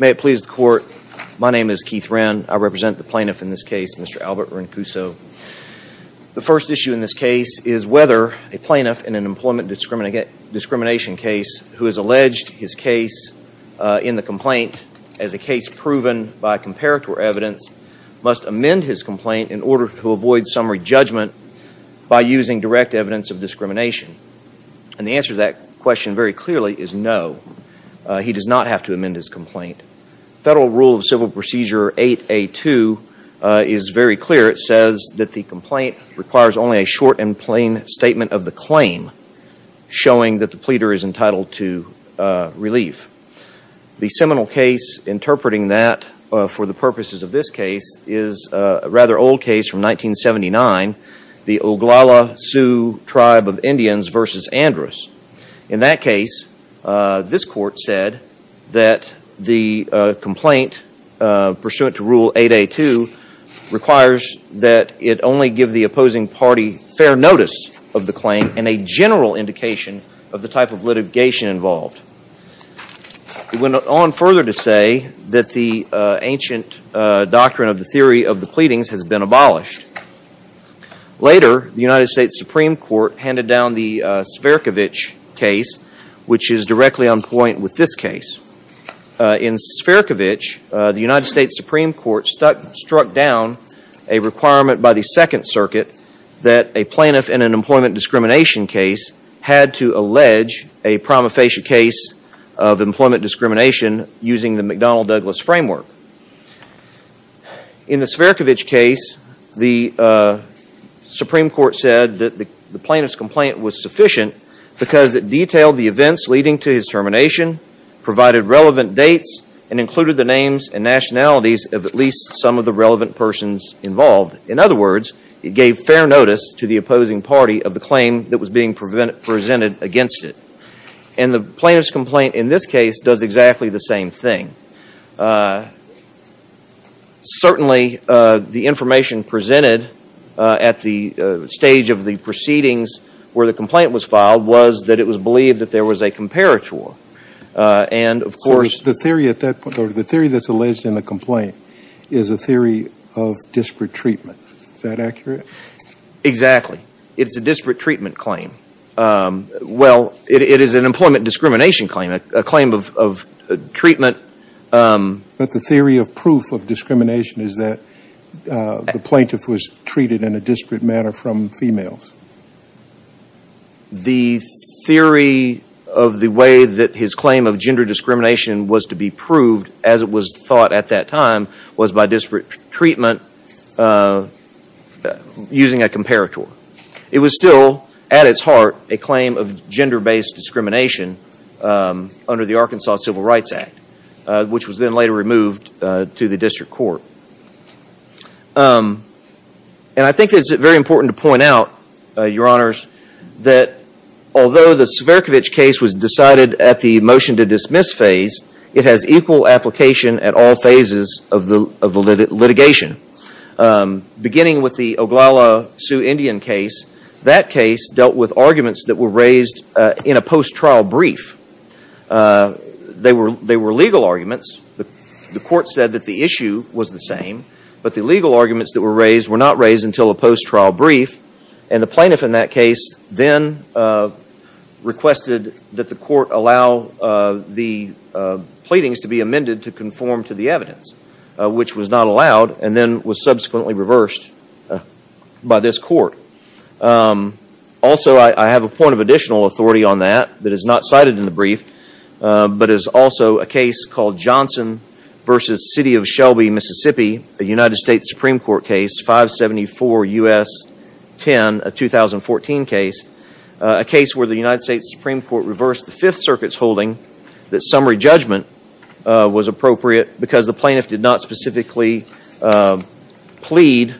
May it please the court, my name is Keith Wren. I represent the plaintiff in this case, Mr. Albert Rinchuso. The first issue in this case is whether a plaintiff in an employment discrimination case who has alleged his case in the complaint as a case proven by comparator evidence must amend his complaint in order to avoid summary judgment by using direct evidence of discrimination. And the answer to that question very clearly is no. He does not have to amend his complaint. Federal Rule of Civil Procedure 8A2 is very clear. It says that the complaint requires only a short and plain statement of the claim showing that the pleader is entitled to relief. The seminal case interpreting that for the purposes of this case is a rather old case from 1979. The Oglala Sioux Tribe of Indians v. Andrus. In that case, this court said that the complaint pursuant to Rule 8A2 requires that it only give the opposing party fair notice of the claim and a general indication of the type of litigation involved. It went on further to say that the ancient doctrine of the theory of the pleadings has been abolished. Later, the United States Supreme Court handed down the Sferkovich case, which is directly on point with this case. In Sferkovich, the United States Supreme Court struck down a requirement by the Second Circuit that a plaintiff in an employment discrimination case had to allege a prima facie case of employment discrimination using the McDonnell-Douglas framework. In the Sferkovich case, the Supreme Court said that the plaintiff's complaint was sufficient because it detailed the events leading to his termination, provided relevant dates, and included the names and nationalities of at least some of the relevant persons involved. In other words, it gave fair notice to the opposing party of the claim that was being presented against it. And the plaintiff's complaint in this case does exactly the same thing. Certainly, the information presented at the stage of the proceedings where the complaint was filed was that it was believed that there was a comparator. So the theory that's alleged in the complaint is a theory of disparate treatment. Is that accurate? Exactly. It's a disparate treatment claim. Well, it is an employment discrimination claim, a claim of treatment. But the theory of proof of discrimination is that the plaintiff was treated in a disparate manner from females. The theory of the way that his claim of gender discrimination was to be proved, as it was thought at that time, was by disparate treatment using a comparator. It was still, at its heart, a claim of gender-based discrimination under the Arkansas Civil Rights Act, which was then later removed to the district court. And I think it's very important to point out, Your Honors, that although the Cverkovic case was decided at the motion-to-dismiss phase, it has equal application at all phases of the litigation. Beginning with the Oglala Sioux Indian case, that case dealt with arguments that were raised in a post-trial brief. They were legal arguments. The court said that the issue was the same, but the legal arguments that were raised were not raised until a post-trial brief, and the plaintiff in that case then requested that the court allow the pleadings to be amended to conform to the evidence, which was not allowed and then was subsequently reversed by this court. Also, I have a point of additional authority on that that is not cited in the brief, but is also a case called Johnson v. City of Shelby, Mississippi, a United States Supreme Court case, 574 U.S. 10, a 2014 case, a case where the United States Supreme Court reversed the Fifth Circuit's holding that summary judgment was appropriate because the plaintiff did not specifically plead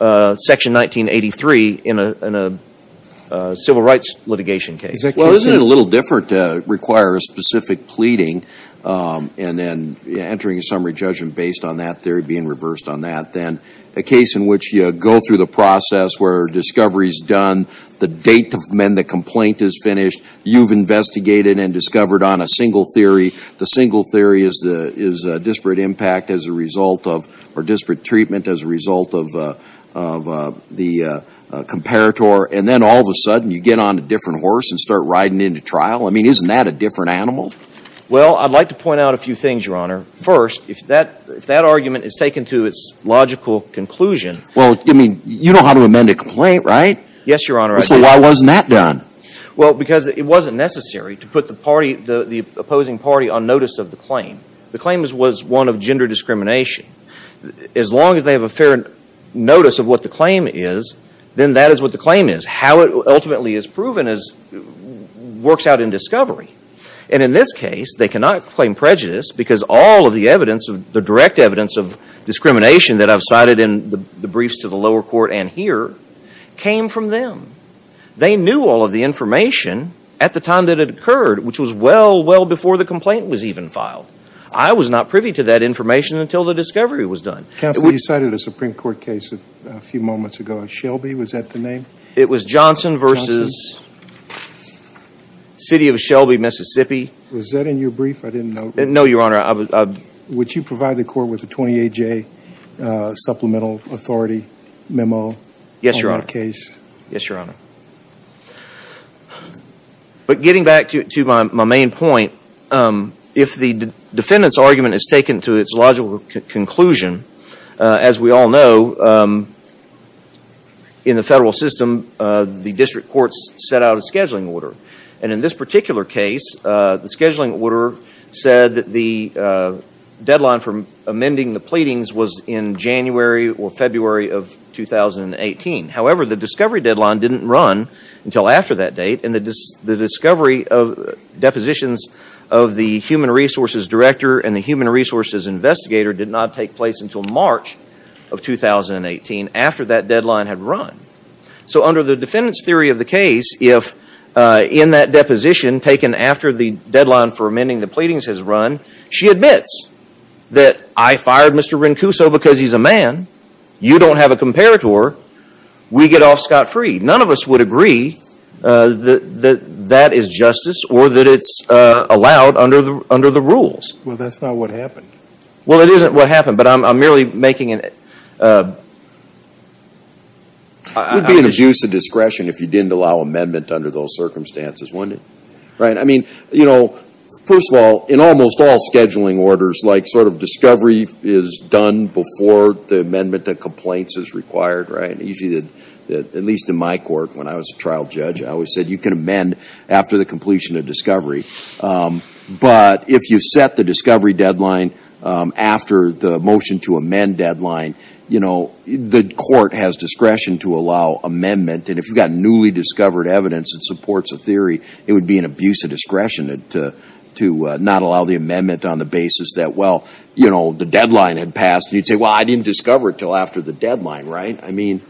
Section 1983 in a civil rights litigation case. Well, isn't it a little different to require a specific pleading and then entering a summary judgment based on that theory being reversed on that than a case in which you go through the process where discovery is done, the date to amend the complaint is finished, you've investigated and discovered on a single theory, the single theory is disparate impact as a result of or disparate treatment as a result of the comparator, and then all of a sudden you get on a different horse and start riding into trial? I mean, isn't that a different animal? Well, I'd like to point out a few things, Your Honor. First, if that argument is taken to its logical conclusion… Well, I mean, you know how to amend a complaint, right? Yes, Your Honor, I do. So why wasn't that done? Well, because it wasn't necessary to put the opposing party on notice of the claim. The claim was one of gender discrimination. As long as they have a fair notice of what the claim is, then that is what the claim is. How it ultimately is proven works out in discovery. And in this case, they cannot claim prejudice because all of the direct evidence of discrimination that I've cited in the briefs to the lower court and here came from them. They knew all of the information at the time that it occurred, which was well, well before the complaint was even filed. I was not privy to that information until the discovery was done. Counsel, you cited a Supreme Court case a few moments ago. Shelby, was that the name? It was Johnson v. City of Shelby, Mississippi. Was that in your brief? I didn't know. No, Your Honor. Would you provide the court with a 28-J supplemental authority memo on that case? Yes, Your Honor. But getting back to my main point, if the defendant's argument is taken to its logical conclusion, as we all know, in the federal system, the district courts set out a scheduling order. And in this particular case, the scheduling order said that the deadline for amending the pleadings was in January or February of 2018. However, the discovery deadline didn't run until after that date. And the discovery of depositions of the Human Resources Director and the Human Resources Investigator did not take place until March of 2018 after that deadline had run. So under the defendant's theory of the case, if in that deposition taken after the deadline for amending the pleadings has run, she admits that I fired Mr. Rincuso because he's a man. You don't have a comparator. We get off scot-free. None of us would agree that that is justice or that it's allowed under the rules. Well, that's not what happened. Well, it isn't what happened, but I'm merely making it. It would be an abuse of discretion if you didn't allow amendment under those circumstances, wouldn't it? I mean, you know, first of all, in almost all scheduling orders, like sort of discovery is done before the amendment to complaints is required, right? Usually, at least in my court when I was a trial judge, I always said you can amend after the completion of discovery. But if you set the discovery deadline after the motion to amend deadline, you know, the court has discretion to allow amendment. And if you've got newly discovered evidence that supports a theory, it would be an abuse of discretion to not allow the amendment on the basis that, well, you know, the deadline had passed. And you'd say, well, I didn't discover it until after the deadline, right? I mean,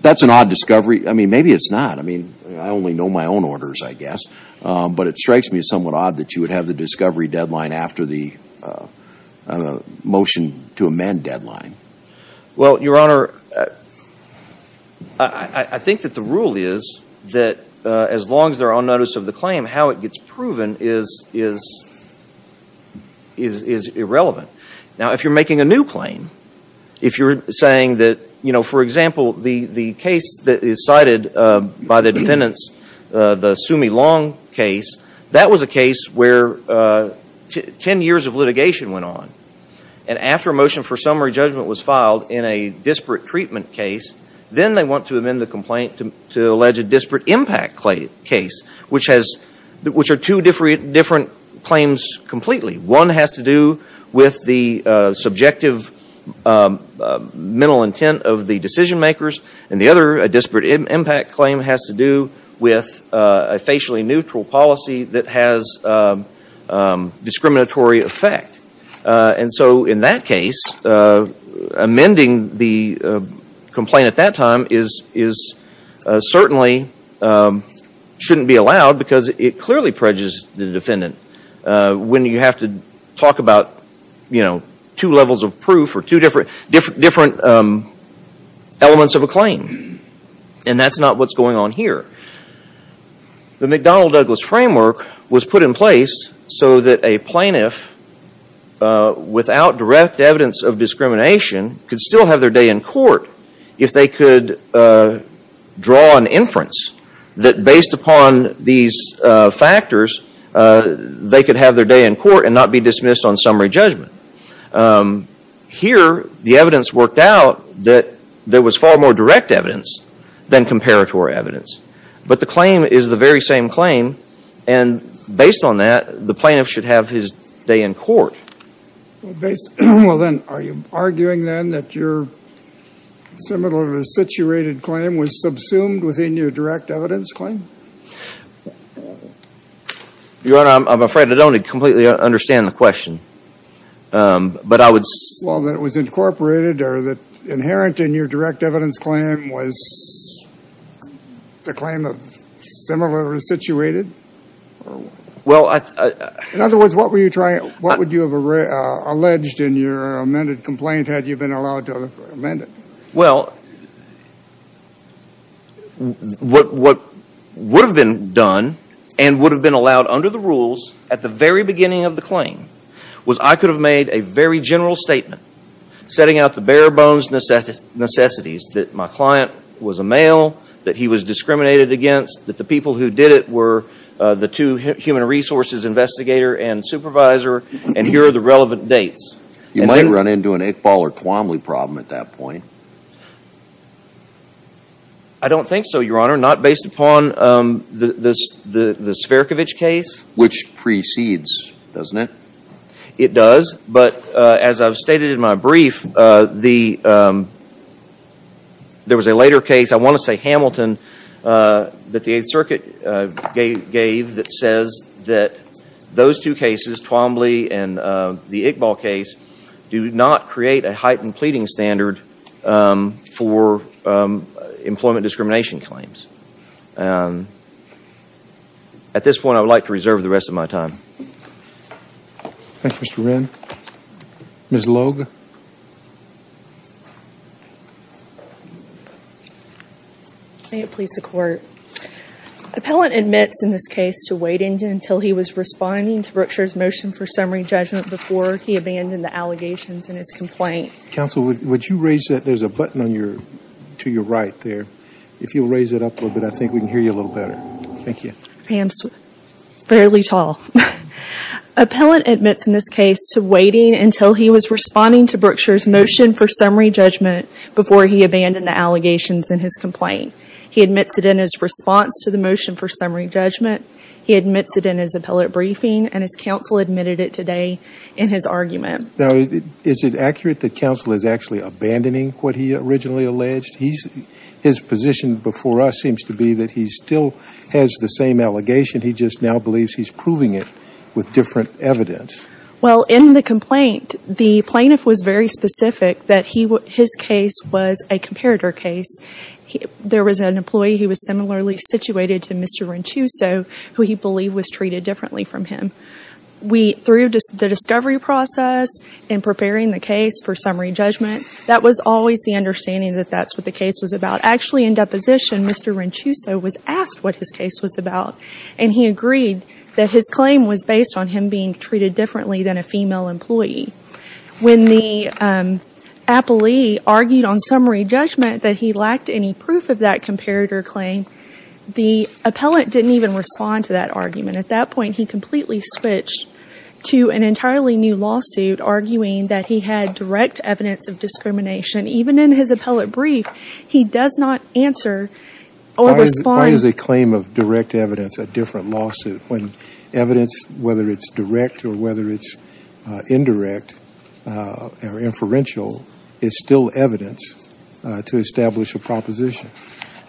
that's an odd discovery. I mean, maybe it's not. I mean, I only know my own orders, I guess. But it strikes me as somewhat odd that you would have the discovery deadline after the motion to amend deadline. Well, Your Honor, I think that the rule is that as long as they're on notice of the claim, how it gets proven is irrelevant. Now, if you're making a new claim, if you're saying that, you know, for example, the case that is cited by the defendants, the Sumi Long case, that was a case where 10 years of litigation went on. And after a motion for summary judgment was filed in a disparate treatment case, then they want to amend the complaint to allege a disparate impact case, which are two different claims completely. One has to do with the subjective mental intent of the decision makers. And the other, a disparate impact claim has to do with a facially neutral policy that has discriminatory effect. And so in that case, amending the complaint at that time certainly shouldn't be allowed because it clearly prejudges the defendant. When you have to talk about, you know, two levels of proof or two different elements of a claim. And that's not what's going on here. The McDonnell-Douglas framework was put in place so that a plaintiff without direct evidence of discrimination could still have their day in court if they could draw an inference that based upon these factors, they could have their day in court and not be dismissed on summary judgment. Here, the evidence worked out that there was far more direct evidence than comparatory evidence. But the claim is the very same claim. And based on that, the plaintiff should have his day in court. Well, then, are you arguing then that your similarly situated claim was subsumed within your direct evidence claim? Your Honor, I'm afraid I don't completely understand the question. But I would... Well, that it was incorporated or that inherent in your direct evidence claim was the claim of similarly situated? Well, I... In other words, what would you have alleged in your amended complaint had you been allowed to amend it? Well, what would have been done and would have been allowed under the rules at the very beginning of the claim was I could have made a very general statement setting out the bare-bones necessities that my client was a male, that he was discriminated against, that the people who did it were the two human resources investigator and supervisor, and here are the relevant dates. You might run into an Iqbal or Twomley problem at that point. I don't think so, Your Honor, not based upon the Sverkovich case. Which precedes, doesn't it? It does. But as I've stated in my brief, there was a later case, I want to say Hamilton, that the Eighth Circuit gave that says that those two cases, Twomley and the Iqbal case, do not create a heightened pleading standard for employment discrimination claims. At this point, I would like to reserve the rest of my time. Thank you, Mr. Wren. Ms. Logue? May it please the Court. Appellant admits in this case to waiting until he was responding to Brookshire's motion for summary judgment before he abandoned the allegations in his complaint. Counsel, would you raise that? There's a button to your right there. If you'll raise it up a little bit, I think we can hear you a little better. Thank you. My hand's fairly tall. Appellant admits in this case to waiting until he was responding to Brookshire's motion for summary judgment before he abandoned the allegations in his complaint. He admits it in his response to the motion for summary judgment. He admits it in his appellate briefing. And his counsel admitted it today in his argument. Now, is it accurate that counsel is actually abandoning what he originally alleged? His position before us seems to be that he still has the same allegation. He just now believes he's proving it with different evidence. Well, in the complaint, the plaintiff was very specific that his case was a comparator case. There was an employee who was similarly situated to Mr. Ranchuso, who he believed was treated differently from him. Through the discovery process and preparing the case for summary judgment, that was always the understanding that that's what the case was about. Actually, in deposition, Mr. Ranchuso was asked what his case was about. And he agreed that his claim was based on him being treated differently than a female employee. When the appellee argued on summary judgment that he lacked any proof of that comparator claim, the appellant didn't even respond to that argument. At that point, he completely switched to an entirely new lawsuit, arguing that he had direct evidence of discrimination. Even in his appellate brief, he does not answer or respond. Why is a claim of direct evidence a different lawsuit when evidence, whether it's direct or whether it's indirect or inferential, is still evidence to establish a proposition?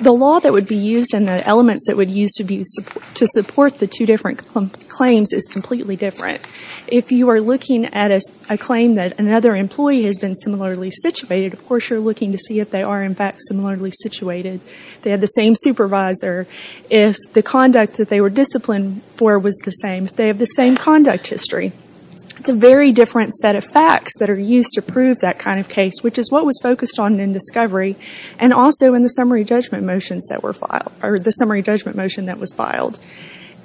The law that would be used and the elements that would be used to support the two different claims is completely different. If you are looking at a claim that another employee has been similarly situated, of course you're looking to see if they are, in fact, similarly situated. They have the same supervisor. If the conduct that they were disciplined for was the same, they have the same conduct history. It's a very different set of facts that are used to prove that kind of case, which is what was focused on in discovery. Also, in the summary judgment motion that was filed.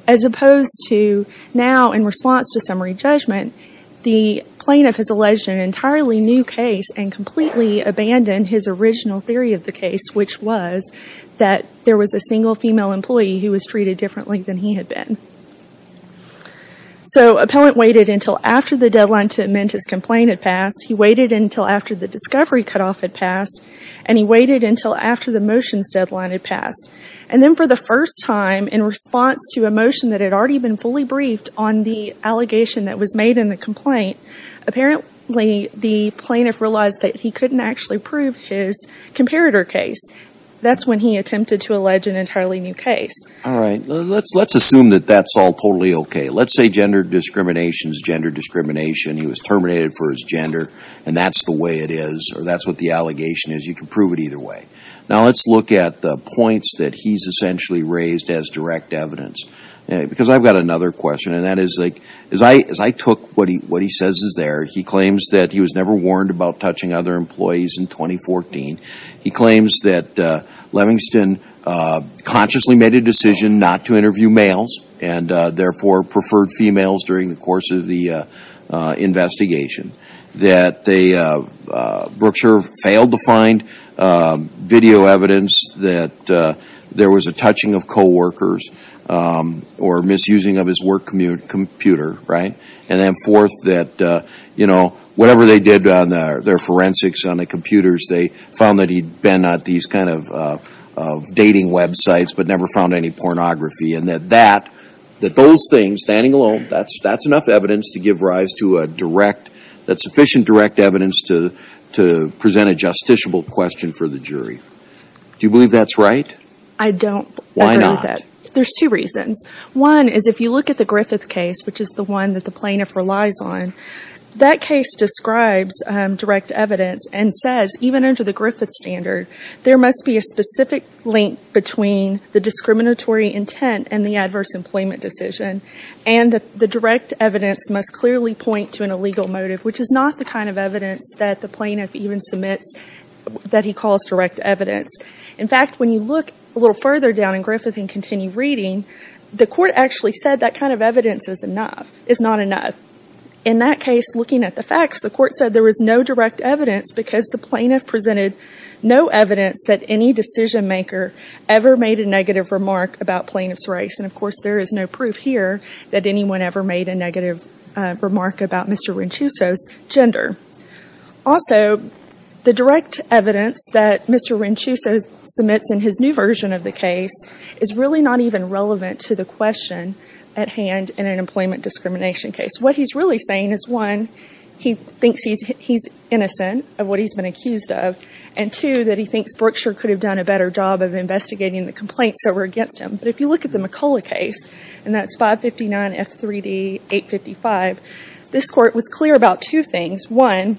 As opposed to now, in response to summary judgment, the plaintiff has alleged an entirely new case and completely abandoned his original theory of the case, which was that there was a single female employee who was treated differently than he had been. So, appellant waited until after the deadline to amend his complaint had passed. He waited until after the discovery cutoff had passed. And he waited until after the motions deadline had passed. And then for the first time, in response to a motion that had already been fully briefed on the allegation that was made in the complaint, apparently the plaintiff realized that he couldn't actually prove his comparator case. That's when he attempted to allege an entirely new case. All right. Let's assume that that's all totally okay. Let's say gender discrimination is gender discrimination. He was terminated for his gender, and that's the way it is, or that's what the allegation is. You can prove it either way. Now, let's look at the points that he's essentially raised as direct evidence. Because I've got another question, and that is, as I took what he says is there, he claims that he was never warned about touching other employees in 2014. He claims that Levingston consciously made a decision not to interview males and therefore preferred females during the course of the investigation. That Brookshire failed to find video evidence that there was a touching of coworkers or misusing of his work computer, right? And then fourth, that whatever they did on their forensics on the computers, they found that he'd been at these kind of dating websites but never found any pornography. And that those things, standing alone, that's enough evidence to give rise to a direct, that's sufficient direct evidence to present a justiciable question for the jury. Do you believe that's right? I don't. Why not? There's two reasons. One is if you look at the Griffith case, which is the one that the plaintiff relies on, that case describes direct evidence and says, even under the Griffith standard, there must be a specific link between the discriminatory intent and the adverse employment decision, and the direct evidence must clearly point to an illegal motive, which is not the kind of evidence that the plaintiff even submits that he calls direct evidence. In fact, when you look a little further down in Griffith and continue reading, the court actually said that kind of evidence is not enough. In that case, looking at the facts, the court said there was no direct evidence because the plaintiff presented no evidence that any decision maker ever made a negative remark about plaintiff's race. And, of course, there is no proof here that anyone ever made a negative remark about Mr. Ranchuso's gender. Also, the direct evidence that Mr. Ranchuso submits in his new version of the case is really not even relevant to the question at hand in an employment discrimination case. What he's really saying is, one, he thinks he's innocent of what he's been accused of, and, two, that he thinks Berkshire could have done a better job of investigating the complaints that were against him. But if you look at the McCullough case, and that's 559 F3D 855, this court was clear about two things. One,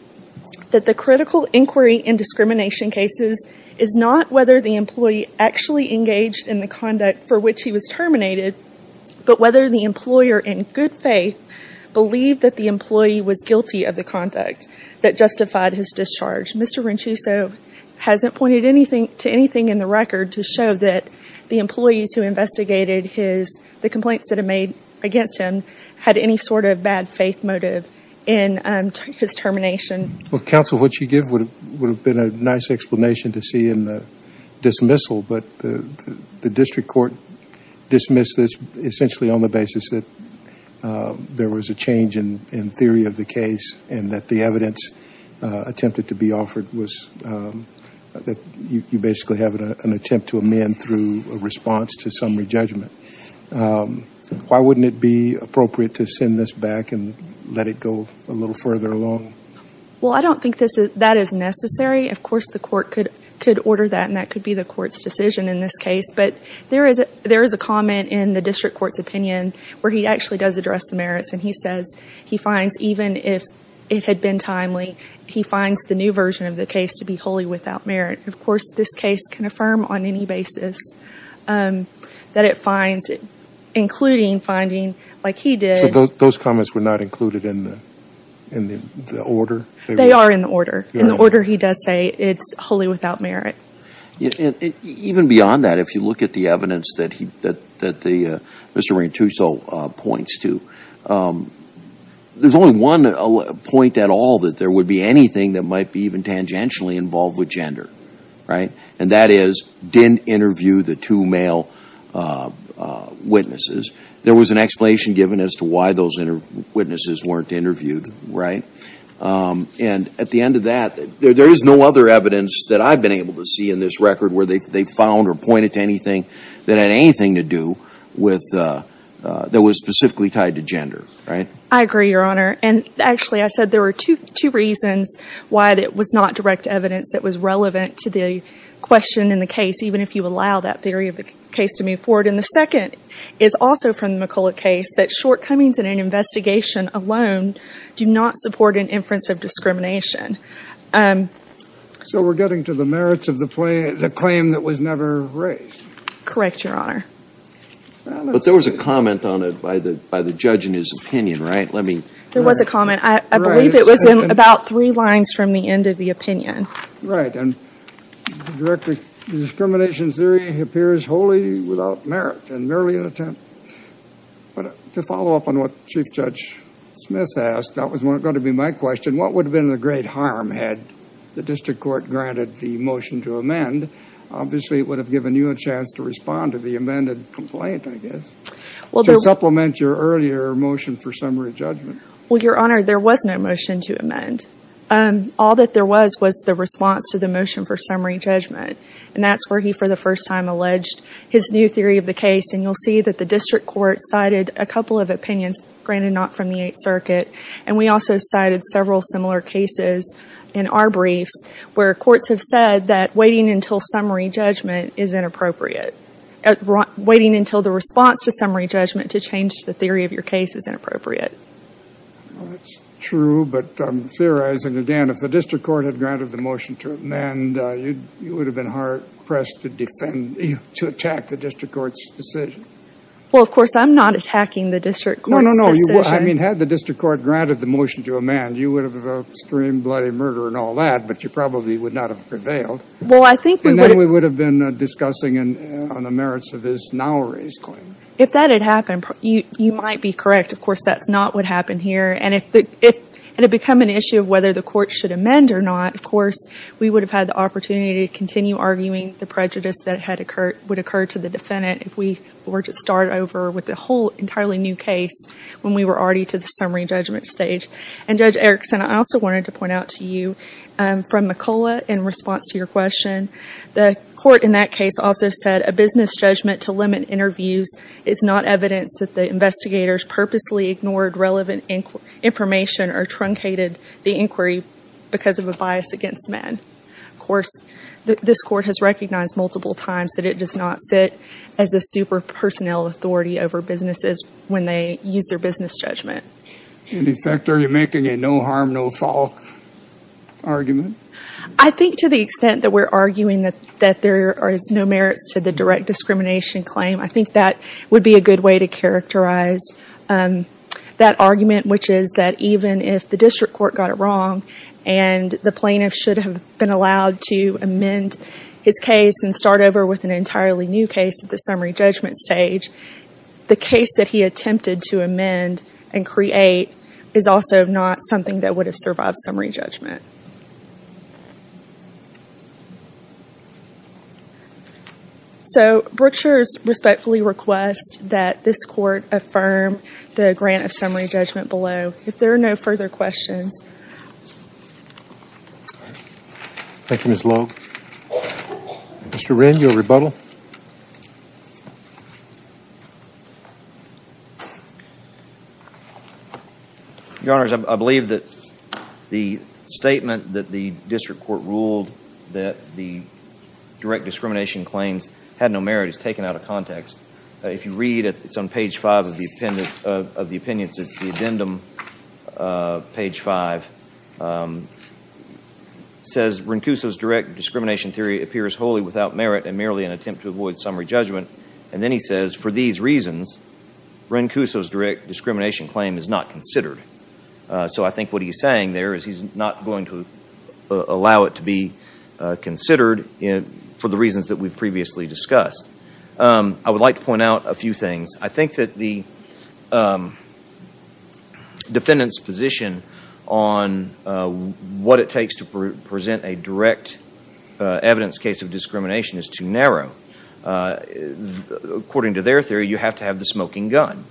that the critical inquiry in discrimination cases is not whether the employee actually engaged in the conduct for which he was terminated, but whether the employer, in good faith, believed that the employee was guilty of the conduct that justified his discharge. Mr. Ranchuso hasn't pointed to anything in the record to show that the employees who investigated the complaints that were made against him had any sort of bad faith motive in his termination. Well, counsel, what you give would have been a nice explanation to see in the dismissal, but the district court dismissed this essentially on the basis that there was a change in theory of the case and that the evidence attempted to be offered was that you basically have an attempt to amend through a response to summary judgment. Why wouldn't it be appropriate to send this back and let it go a little further along? Well, I don't think that is necessary. Of course, the court could order that, and that could be the court's decision in this case. But there is a comment in the district court's opinion where he actually does address the merits, and he says he finds, even if it had been timely, he finds the new version of the case to be wholly without merit. Of course, this case can affirm on any basis that it finds, including finding like he did. So those comments were not included in the order? They are in the order. In the order, he does say it's wholly without merit. Even beyond that, if you look at the evidence that Mr. Ranchuso points to, there's only one point at all that there would be anything that might be even tangentially involved with gender, right? And that is, didn't interview the two male witnesses. There was an explanation given as to why those witnesses weren't interviewed, right? And at the end of that, there is no other evidence that I've been able to see in this record where they found or pointed to anything that had anything to do with, that was specifically tied to gender, right? I agree, Your Honor. And actually, I said there were two reasons why it was not direct evidence that was relevant to the question in the case, even if you allow that theory of the case to move forward. And the second is also from the McCulloch case, that shortcomings in an investigation alone do not support an inference of discrimination. So we're getting to the merits of the claim that was never raised. Correct, Your Honor. But there was a comment on it by the judge in his opinion, right? There was a comment. I believe it was in about three lines from the end of the opinion. Right. And the discrimination theory appears wholly without merit and merely an attempt. But to follow up on what Chief Judge Smith asked, that was going to be my question. What would have been the great harm had the district court granted the motion to amend? Obviously, it would have given you a chance to respond to the amended complaint, I guess, to supplement your earlier motion for summary judgment. Well, Your Honor, there was no motion to amend. All that there was was the response to the motion for summary judgment. And that's where he, for the first time, alleged his new theory of the case. And you'll see that the district court cited a couple of opinions, granted not from the Eighth Circuit. And we also cited several similar cases in our briefs where courts have said that waiting until summary judgment is inappropriate. Waiting until the response to summary judgment to change the theory of your case is inappropriate. Well, that's true. But I'm theorizing again, if the district court had granted the motion to amend, you would have been hard-pressed to defend, to attack the district court's decision. Well, of course, I'm not attacking the district court's decision. No, no, no. I mean, had the district court granted the motion to amend, you would have screamed bloody murder and all that. But you probably would not have prevailed. Well, I think we would have. And then we would have been discussing on the merits of his now-raised claim. If that had happened, you might be correct. Of course, that's not what happened here. And if it had become an issue of whether the court should amend or not, of course, we would have had the opportunity to continue arguing the prejudice that would occur to the defendant if we were to start over with a whole entirely new case when we were already to the summary judgment stage. And, Judge Erickson, I also wanted to point out to you, from McCullough, in response to your question, the court in that case also said a business judgment to limit interviews is not evidence that the investigators purposely ignored relevant information or truncated the inquiry because of a bias against men. Of course, this court has recognized multiple times that it does not sit as a super-personnel authority over businesses when they use their business judgment. In effect, are you making a no-harm, no-fault argument? I think to the extent that we're arguing that there is no merits to the direct discrimination claim, I think that would be a good way to characterize that argument, which is that even if the district court got it wrong and the plaintiff should have been allowed to amend his case and start over with an entirely new case at the summary judgment stage, the case that he attempted to amend and create is also not something that would have survived summary judgment. So, Brookshire respectfully requests that this court affirm the grant of summary judgment below. If there are no further questions. Thank you, Ms. Long. Mr. Wren, your rebuttal. Your Honors, I believe that the statement that the district court ruled that the direct discrimination claims had no merit is taken out of context. If you read, it's on page five of the opinions of the addendum, page five. It says, Rencuso's direct discrimination theory appears wholly without merit and merely an attempt to avoid summary judgment. And then he says, for these reasons, Rencuso's direct discrimination claim is not considered. So I think what he's saying there is he's not going to allow it to be considered for the reasons that we've previously discussed. I would like to point out a few things. I think that the defendant's position on what it takes to present a direct evidence case of discrimination is too narrow. According to their theory, you have to have the smoking gun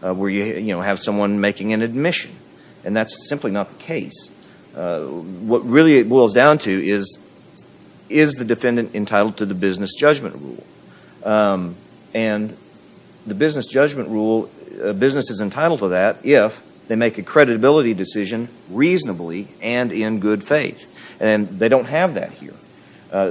where you have someone making an admission. And that's simply not the case. What really it boils down to is, is the defendant entitled to the business judgment rule? And the business judgment rule, a business is entitled to that if they make a creditability decision reasonably and in good faith. And they don't have that here.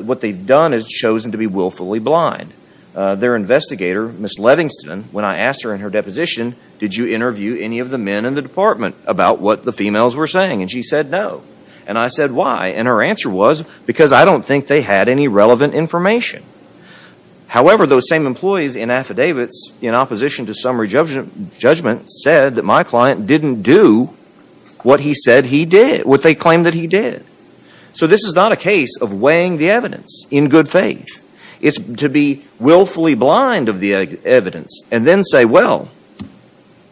What they've done is chosen to be willfully blind. Their investigator, Ms. Levingston, when I asked her in her deposition, did you interview any of the men in the department about what the females were saying? And she said, no. And I said, why? And her answer was, because I don't think they had any relevant information. However, those same employees in affidavits in opposition to summary judgment said that my client didn't do what he said he did, what they claimed that he did. So this is not a case of weighing the evidence in good faith. It's to be willfully blind of the evidence and then say, well,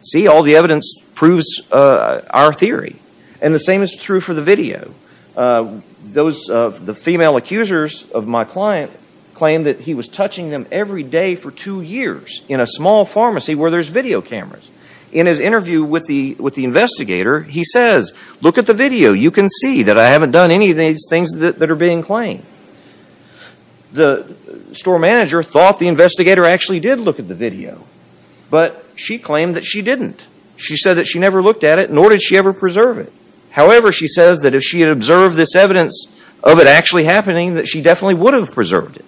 see, all the evidence proves our theory. And the same is true for the video. The female accusers of my client claimed that he was touching them every day for two years in a small pharmacy where there's video cameras. In his interview with the investigator, he says, look at the video. You can see that I haven't done any of these things that are being claimed. The store manager thought the investigator actually did look at the video. But she claimed that she didn't. She said that she never looked at it, nor did she ever preserve it. However, she says that if she had observed this evidence of it actually happening, that she definitely would have preserved it.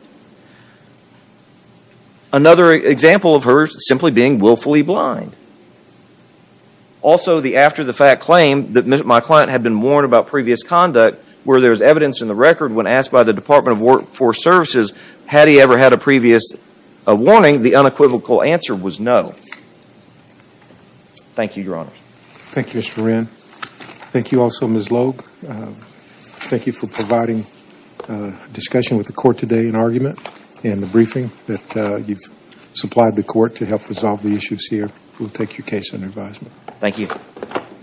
Another example of her simply being willfully blind. Also, the after-the-fact claim that my client had been warned about previous conduct where there's evidence in the record when asked by the Department of Workforce Services, had he ever had a previous warning, the unequivocal answer was no. Thank you, Your Honors. Thank you, Mr. Moran. Thank you also, Ms. Loeb. Thank you for providing discussion with the court today and argument in the briefing that you've supplied the court to help resolve the issues here. We'll take your case under advisement. Thank you.